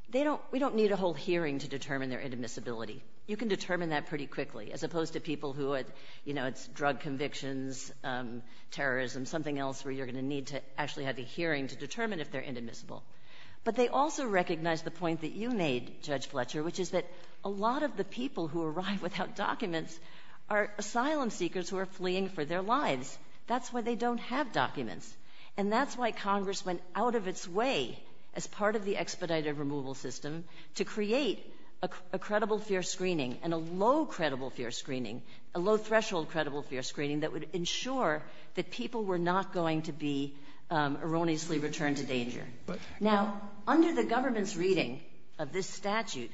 they don't — we don't need a whole hearing to determine their inadmissibility. You can determine that pretty quickly, as opposed to people who would — you know, it's drug convictions, terrorism, something else where you're going to need to actually have a hearing to determine if they're inadmissible. But they also recognized the point that you made, Judge Fletcher, which is that a lot of the people who arrive without documents are asylum seekers who are fleeing for their lives. That's why they don't have documents. And that's why Congress went out of its way, as part of the expedited removal system, to create a credible fear screening and a low-credible fear screening, a low-threshold credible fear screening that would ensure that people were not going to be erroneously returned to danger. Now, under the government's reading of this statute,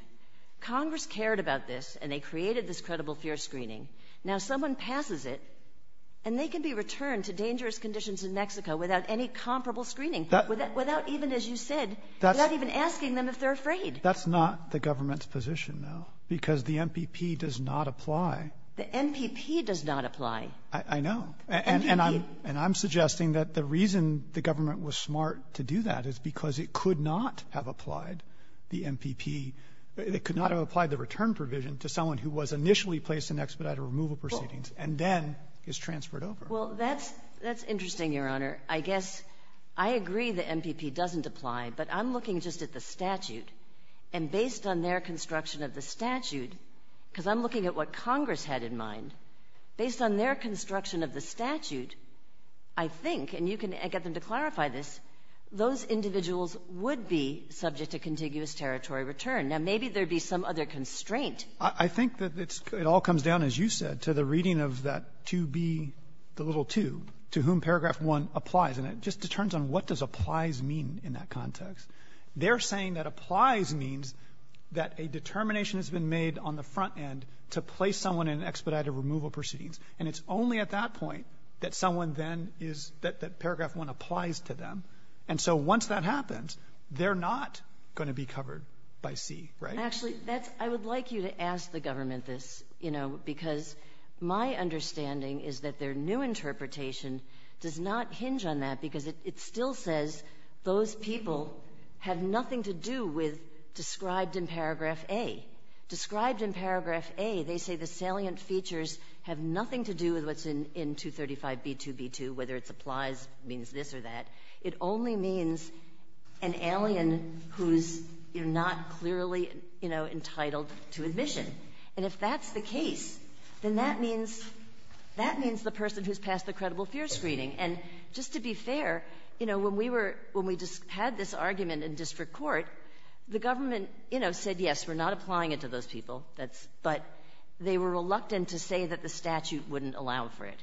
Congress cared about this, and they created this credible fear screening. Now someone passes it, and they can be returned to dangerous conditions in Mexico without any comparable screening, without even, as you said, without even asking them if they're afraid. That's not the government's position, though, because the MPP does not apply. The MPP does not apply. I know. And I'm suggesting that the reason the government was smart to do that is because it could not have applied the MPP, it could not have applied the return provision to someone who was initially placed in expedited removal proceedings and then is transferred Well, that's interesting, Your Honor. I guess I agree the MPP doesn't apply, but I'm looking just at the statute, and based on their construction of the statute, because I'm looking at what Congress had in mind, based on their construction of the statute, I think, and you can get them to clarify this, those individuals would be subject to contiguous territory return. Now, maybe there would be some other constraint. I think that it all comes down, as you said, to the reading of that 2B, the little 2, to whom paragraph 1 applies. And it just determines on what does applies mean in that context. They're saying that applies means that a determination has been made on the front end to place someone in expedited removal proceedings. And it's only at that point that someone then is that paragraph 1 applies to them. And so once that happens, they're not going to be covered by C, right? Actually, I would like you to ask the government this, you know, because my understanding is that their new interpretation does not hinge on that, because it still says those people have nothing to do with described in paragraph A. Described in paragraph A, they say the salient features have nothing to do with what's in 235B2B2, whether it's applies means this or that. It only means an alien who's, you know, not clearly, you know, entitled to admission. And if that's the case, then that means the person who's passed the credible fear screening. And just to be fair, you know, when we had this argument in district court, the government, you know, said, yes, we're not applying it to those people, but they were reluctant to say that the statute wouldn't allow for it.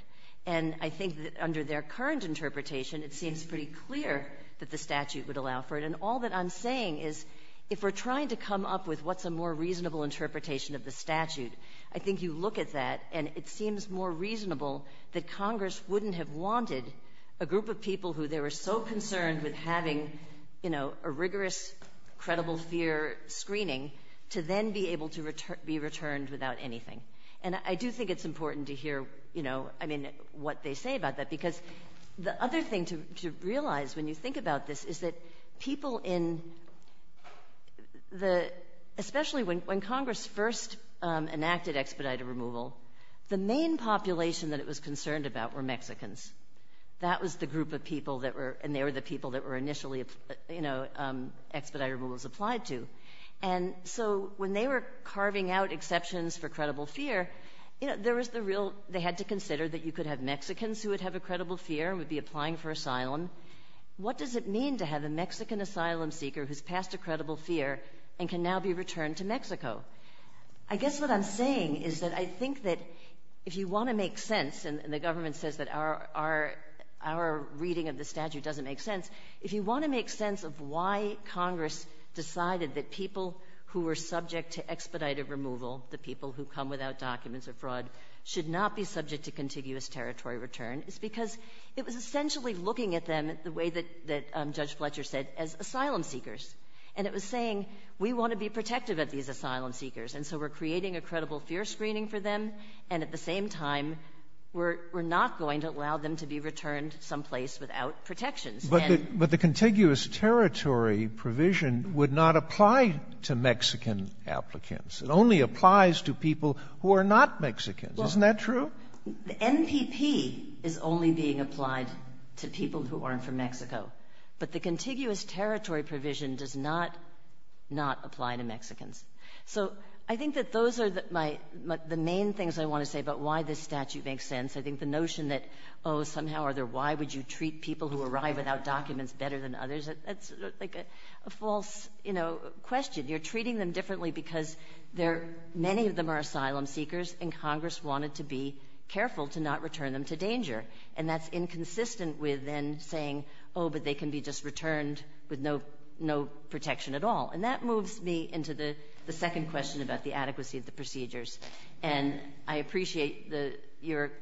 And I think that under their current interpretation, it seems pretty clear that the statute would allow for it. And all that I'm saying is if we're trying to come up with what's a more reasonable interpretation of the statute, I think you look at that, and it seems more reasonable that Congress wouldn't have wanted a group of people who they were so concerned with having, you know, a rigorous, credible fear screening to then be able to be returned without anything. And I do think it's important to hear, you know, I mean, what they say about that. Because the other thing to realize when you think about this is that people in the – especially when Congress first enacted expedited removal, the main population that it was concerned about were Mexicans. That was the group of people that were – and they were the people that were initially, you know, expedited removal was applied to. And so when they were carving out exceptions for credible fear, you know, there was the real – they had to consider that you could have Mexicans who would have a credible fear and would be applying for asylum. What does it mean to have a Mexican asylum seeker who's passed a credible fear and can now be returned to Mexico? I guess what I'm saying is that I think that if you want to make sense – and the government says that our reading of the statute doesn't make sense – if you want to make sense of why Congress decided that people who were subject to expedited removal, the people who come without documents or fraud, should not be subject to contiguous territory return, it's because it was essentially looking at them the way that Judge Fletcher said, as asylum seekers. And it was saying, we want to be protective of these asylum seekers. And so we're creating a credible fear screening for them. And at the same time, we're not going to allow them to be returned someplace without protections. But the contiguous territory provision would not apply to Mexican applicants. It only applies to people who are not Mexicans. Isn't that true? The NPP is only being applied to people who aren't from Mexico. But the contiguous territory provision does not – not apply to Mexicans. So I think that those are my – the main things I want to say about why this statute makes sense. I think the notion that, oh, somehow or other, why would you treat people who arrive without documents better than others, that's like a false question. You're treating them differently because there – many of them are asylum seekers, and Congress wanted to be careful to not return them to danger. And that's inconsistent with then saying, oh, but they can be just returned with no protection at all. And that moves me into the second question about the adequacy of the procedures. And I appreciate the – your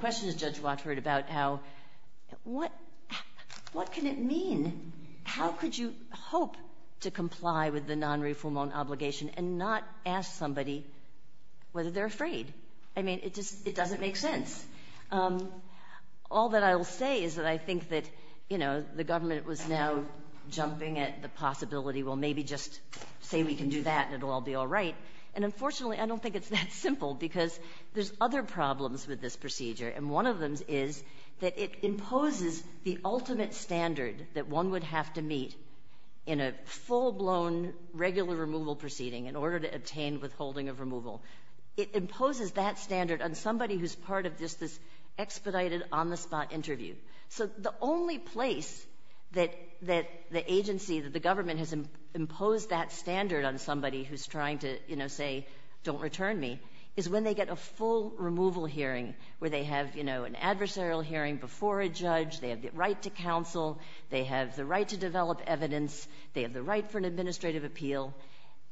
question, Judge Watford, about how – what can it mean? How could you hope to comply with the non-refoulement obligation and not ask somebody whether they're afraid? I mean, it just – it doesn't make sense. All that I'll say is that I think that the government was now jumping at the possibility, well, maybe just say we can do that and it'll all be all right. And unfortunately, I don't think it's that simple because there's other problems with this procedure, and one of them is that it imposes the ultimate standard that one would have to meet in a full-blown regular removal proceeding in order to obtain withholding of removal. It imposes that standard on somebody who's part of just this expedited, on-the-spot interview. So the only place that the agency, that the government has imposed that standard on somebody who's trying to, you know, say, don't return me, is when they get a full removal hearing, where they have, you know, an adversarial hearing before a judge, they have the right to counsel, they have the right to develop evidence, they have the right for an administrative appeal.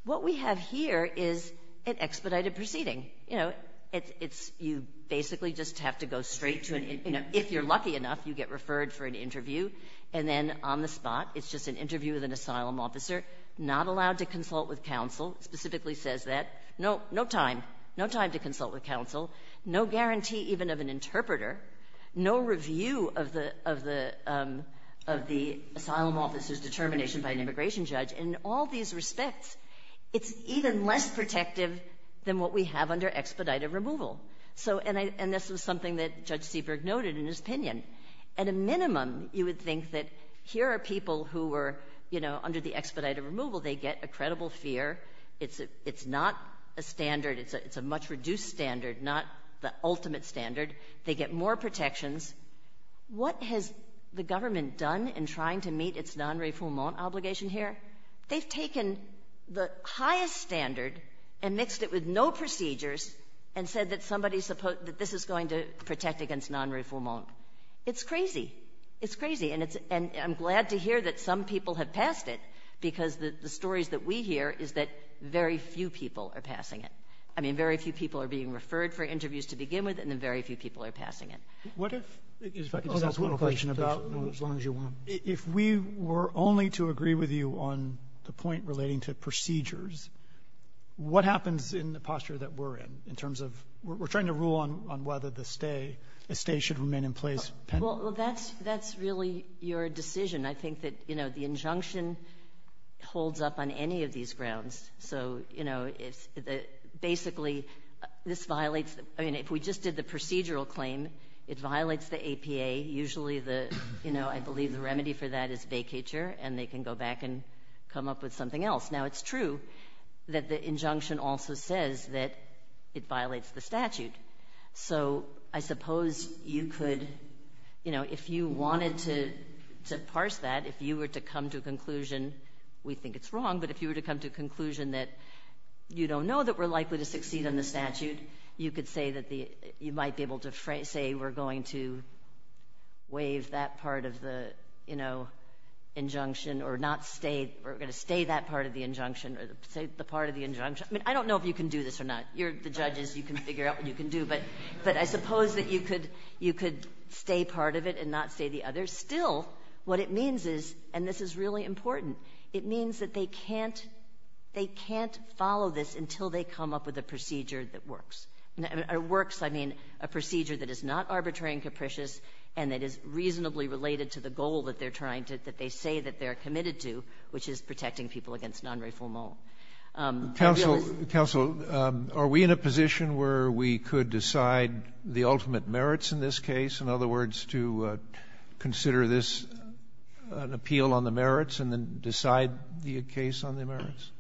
What we have here is an expedited proceeding. You know, it's – you basically just have to go straight to an – if you're lucky enough, you get referred for an interview, and then on the spot, it's just an interview with an asylum officer, not allowed to consult with counsel. It specifically says that. No time. No time to consult with counsel. No guarantee even of an interpreter. No review of the asylum officer's determination by an immigration judge. In all these respects, it's even less protective than what we have under expedited removal. So – and this was something that Judge Seabrook noted in his opinion. At a minimum, you would think that here are people who were, you know, under the expedited removal. They get a credible fear. It's not a standard. It's a much reduced standard, not the ultimate standard. They get more protections. What has the government done in trying to meet its non-refoulement obligation here? They've taken the highest standard and mixed it with no procedures and said that somebody – that this is going to protect against non-refoulement. It's crazy. It's crazy. And it's – and I'm glad to hear that some people have passed it because the stories that we hear is that very few people are passing it. I mean, very few people are being referred for interviews to begin with, and then very few people are passing it. What if – if I could just ask one question about – As long as you want. If we were only to agree with you on the point relating to procedures, what happens in the rule on whether the stay – a stay should remain in place? Well, that's really your decision. I think that, you know, the injunction holds up on any of these grounds. So, you know, it's – basically, this violates – I mean, if we just did the procedural claim, it violates the APA. Usually the – you know, I believe the remedy for that is vacature, and they can go back and come up with something else. Now, it's true that the injunction also says that it violates the statute. So I suppose you could – you know, if you wanted to parse that, if you were to come to a conclusion – we think it's wrong, but if you were to come to a conclusion that you don't know that we're likely to succeed on the statute, you could say that the – you might be able to say we're going to waive that part of the, you know, injunction or not stay – we're going to stay that part of the injunction or the part of the injunction. I mean, I don't know if you can do this or not. You're the judges. You can figure out what you can do. But I suppose that you could stay part of it and not stay the other. Still, what it means is – and this is really important – it means that they can't follow this until they come up with a procedure that works. And by works, I mean a procedure that is not arbitrary and capricious and that is reasonably related to the goal that they're trying to – that they say that they're committed to, which is protecting people against non-refoulement. I realize – Counsel, are we in a position where we could decide the ultimate merits in this case? In other words, to consider this an appeal on the merits and then decide the case on the merits?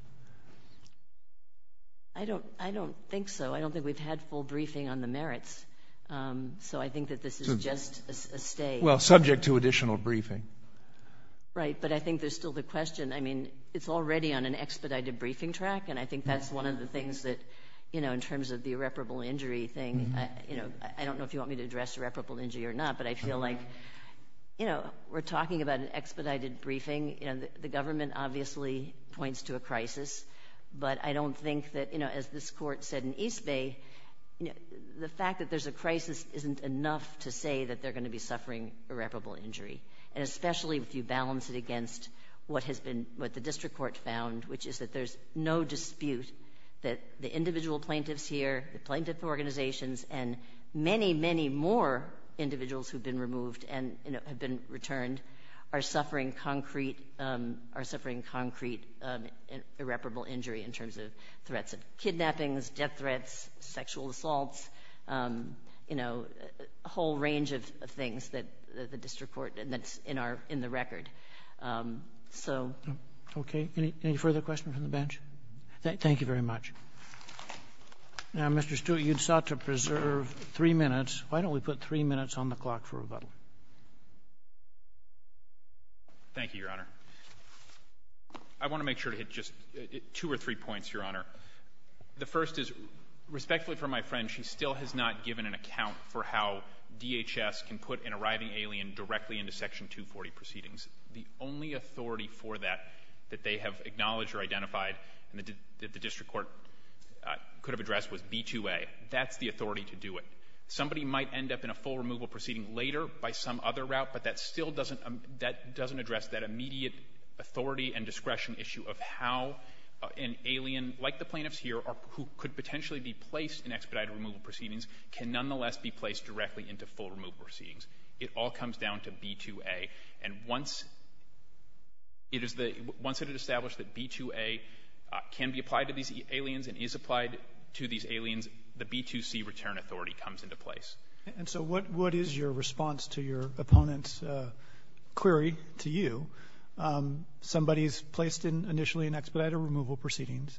I don't think so. I don't think we've had full briefing on the merits. So I think that this is just a stay. Well, subject to additional briefing. Right, but I think there's still the question. I mean, it's already on an expedited briefing track, and I think that's one of the things that, you know, in terms of the irreparable injury thing, you know, I don't know if you want me to address irreparable injury or not, but I feel like, you know, we're talking about an expedited briefing. You know, the government obviously points to a crisis, but I don't think that, you know, as this court said in East Bay, the fact that there's a crisis isn't enough to say that they're going to be suffering irreparable injury. And especially if you balance it against what the district court found, which is that there's no dispute that the individual plaintiffs here, the plaintiff organizations, and many, many more individuals who've been removed and have been returned are suffering concrete irreparable injury in terms of threats of kidnappings, death threats, sexual assaults, you know, a whole range of things that the district court and that's in the record. So... Okay. Any further questions from the bench? Thank you very much. Now, Mr. Stewart, you sought to preserve three minutes. Why don't we put three minutes on the clock for rebuttal? Thank you, Your Honor. I want to make sure to hit just two or three points, Your Honor. The first is, respectfully for my friend, she still has not given an account for how DHS can put an arriving alien directly into Section 240 proceedings. The only authority for that that they have acknowledged or identified that the district court could have addressed was B2A. That's the authority to do it. Somebody might end up in a full removal proceeding later by some other route, but that still doesn't address that immediate authority and discretion issue of how an alien, like the plaintiffs here, who could potentially be placed in expedited removal proceedings, can nonetheless be placed directly into full removal proceedings. It all comes down to B2A. And once it is established that B2A can be applied to these aliens and is applied to these aliens, the B2C return authority comes into place. And so what is your response to your opponent's query to you? Somebody is placed initially in expedited removal proceedings,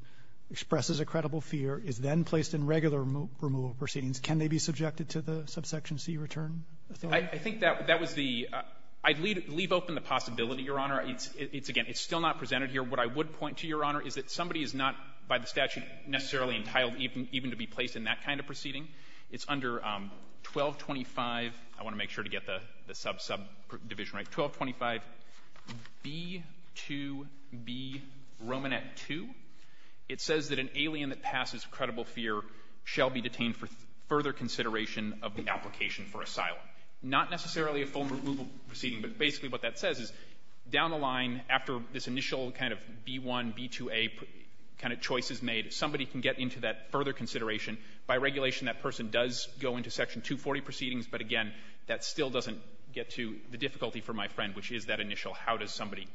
expresses a credible fear, is then placed in regular removal proceedings. Can they be subjected to the subsection C return authority? I think that was the — I'd leave open the possibility, Your Honor. It's, again, it's still not presented here. What I would point to, Your Honor, is that somebody is not by the statute necessarily entitled even to be placed in that kind of proceeding. It's under 1225 — I want to make sure to get the subdivision right — 1225 B2B Romanet 2. It says that an alien that passes credible fear shall be detained for further consideration of the application for asylum. Not necessarily a full removal proceeding, but basically what that says is down the line, after this initial kind of B1, B2A kind of choice is made, somebody can get into that further consideration. By regulation, that person does go into Section 240 proceedings. But, again, that still doesn't get to the difficulty for my friend, which is that initial how does somebody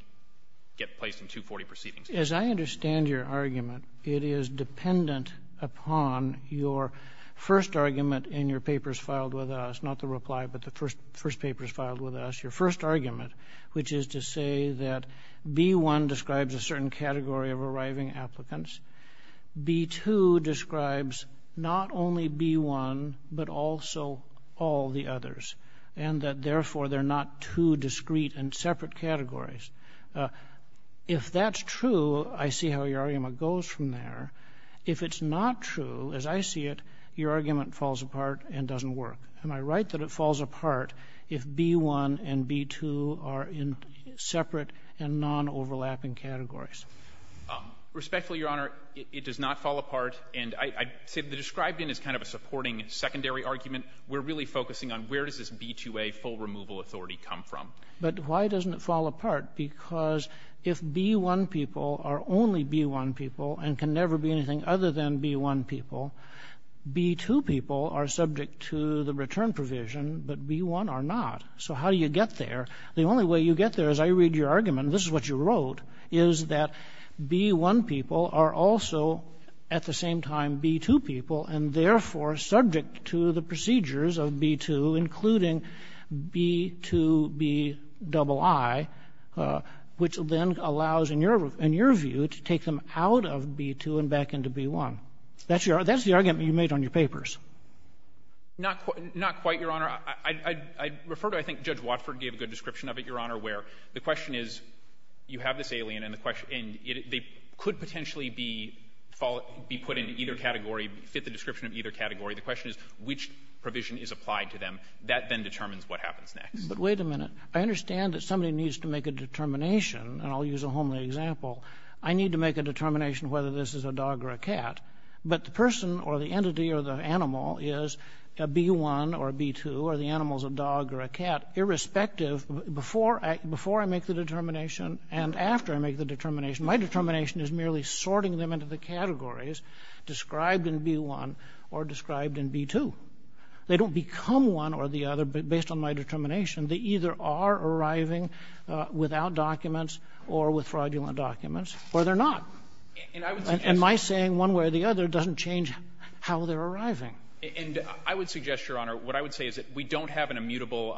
get placed in 240 proceedings. As I understand your argument, it is dependent upon your first argument in your papers filed with us, not the reply, but the first papers filed with us, your first argument, which is to say that B1 describes a certain category of arriving applicants. B2 describes not only B1, but also all the others, and that, therefore, they're not two discrete and separate categories. If that's true, I see how your argument goes from there. If it's not true, as I see it, your argument falls apart and doesn't work. Am I right that it falls apart if B1 and B2 are in separate and non-overlapping categories? Respectfully, Your Honor, it does not fall apart. And I'd say the described in is kind of a supporting secondary argument. We're really focusing on where does this B2A full removal authority come from. But why doesn't it fall apart? Because if B1 people are only B1 people and can never be anything other than B1 people, B2 people are subject to the return provision, but B1 are not. So how do you get there? The only way you get there, as I read your argument, and this is what you wrote, is that B1 people are also at the same time B2 people and, therefore, subject to the procedures of B2, including B2Bii, which then allows, in your view, to take them out of B2 and back into B1. That's the argument you made on your papers. Not quite, Your Honor. I'd refer to, I think, Judge Watford gave a good description of it, Your Honor, where the question is, you have this alien, and they could potentially be put into either category, fit the description of either category. The question is which provision is applied to them. That then determines what happens next. But wait a minute. I understand that somebody needs to make a determination, and I'll use a homely example. I need to make a determination whether this is a dog or a cat. But the person or the entity or the animal is a B1 or a B2 or the animal is a dog or a cat, irrespective, before I make the determination and after I make the determination, my determination is merely sorting them into the categories described in B1 or described in B2. They don't become one or the other based on my determination. They either are arriving without documents or with fraudulent documents, or they're And my saying one way or the other doesn't change how they're arriving. And I would suggest, Your Honor, what I would say is that we don't have an immutable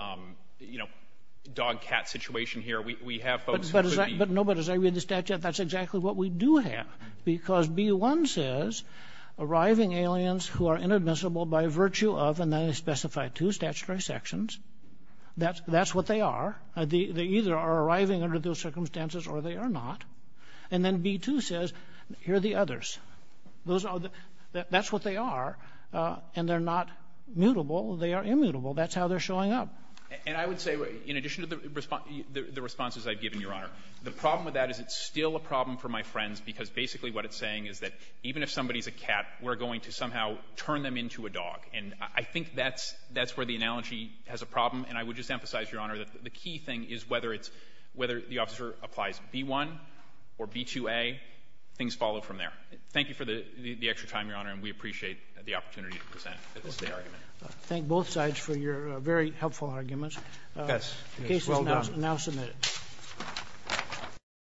dog-cat situation here. We have folks who could be But no, but as I read the statute, that's exactly what we do have, because B1 says arriving aliens who are inadmissible by virtue of, and then I specify two statutory sections, that's what they are. They either are arriving under those circumstances or they are not. And then B2 says, here are the others. Those are the, that's what they are, and they're not mutable, they are immutable. That's how they're showing up. And I would say, in addition to the responses I've given, Your Honor, the problem with that is it's still a problem for my friends, because basically what it's saying is that even if somebody's a cat, we're going to somehow turn them into a dog. And I think that's where the analogy has a problem, and I would just emphasize, Your B2A, things follow from there. Thank you for the extra time, Your Honor, and we appreciate the opportunity to present this argument. Thank both sides for your very helpful arguments. The case is now submitted.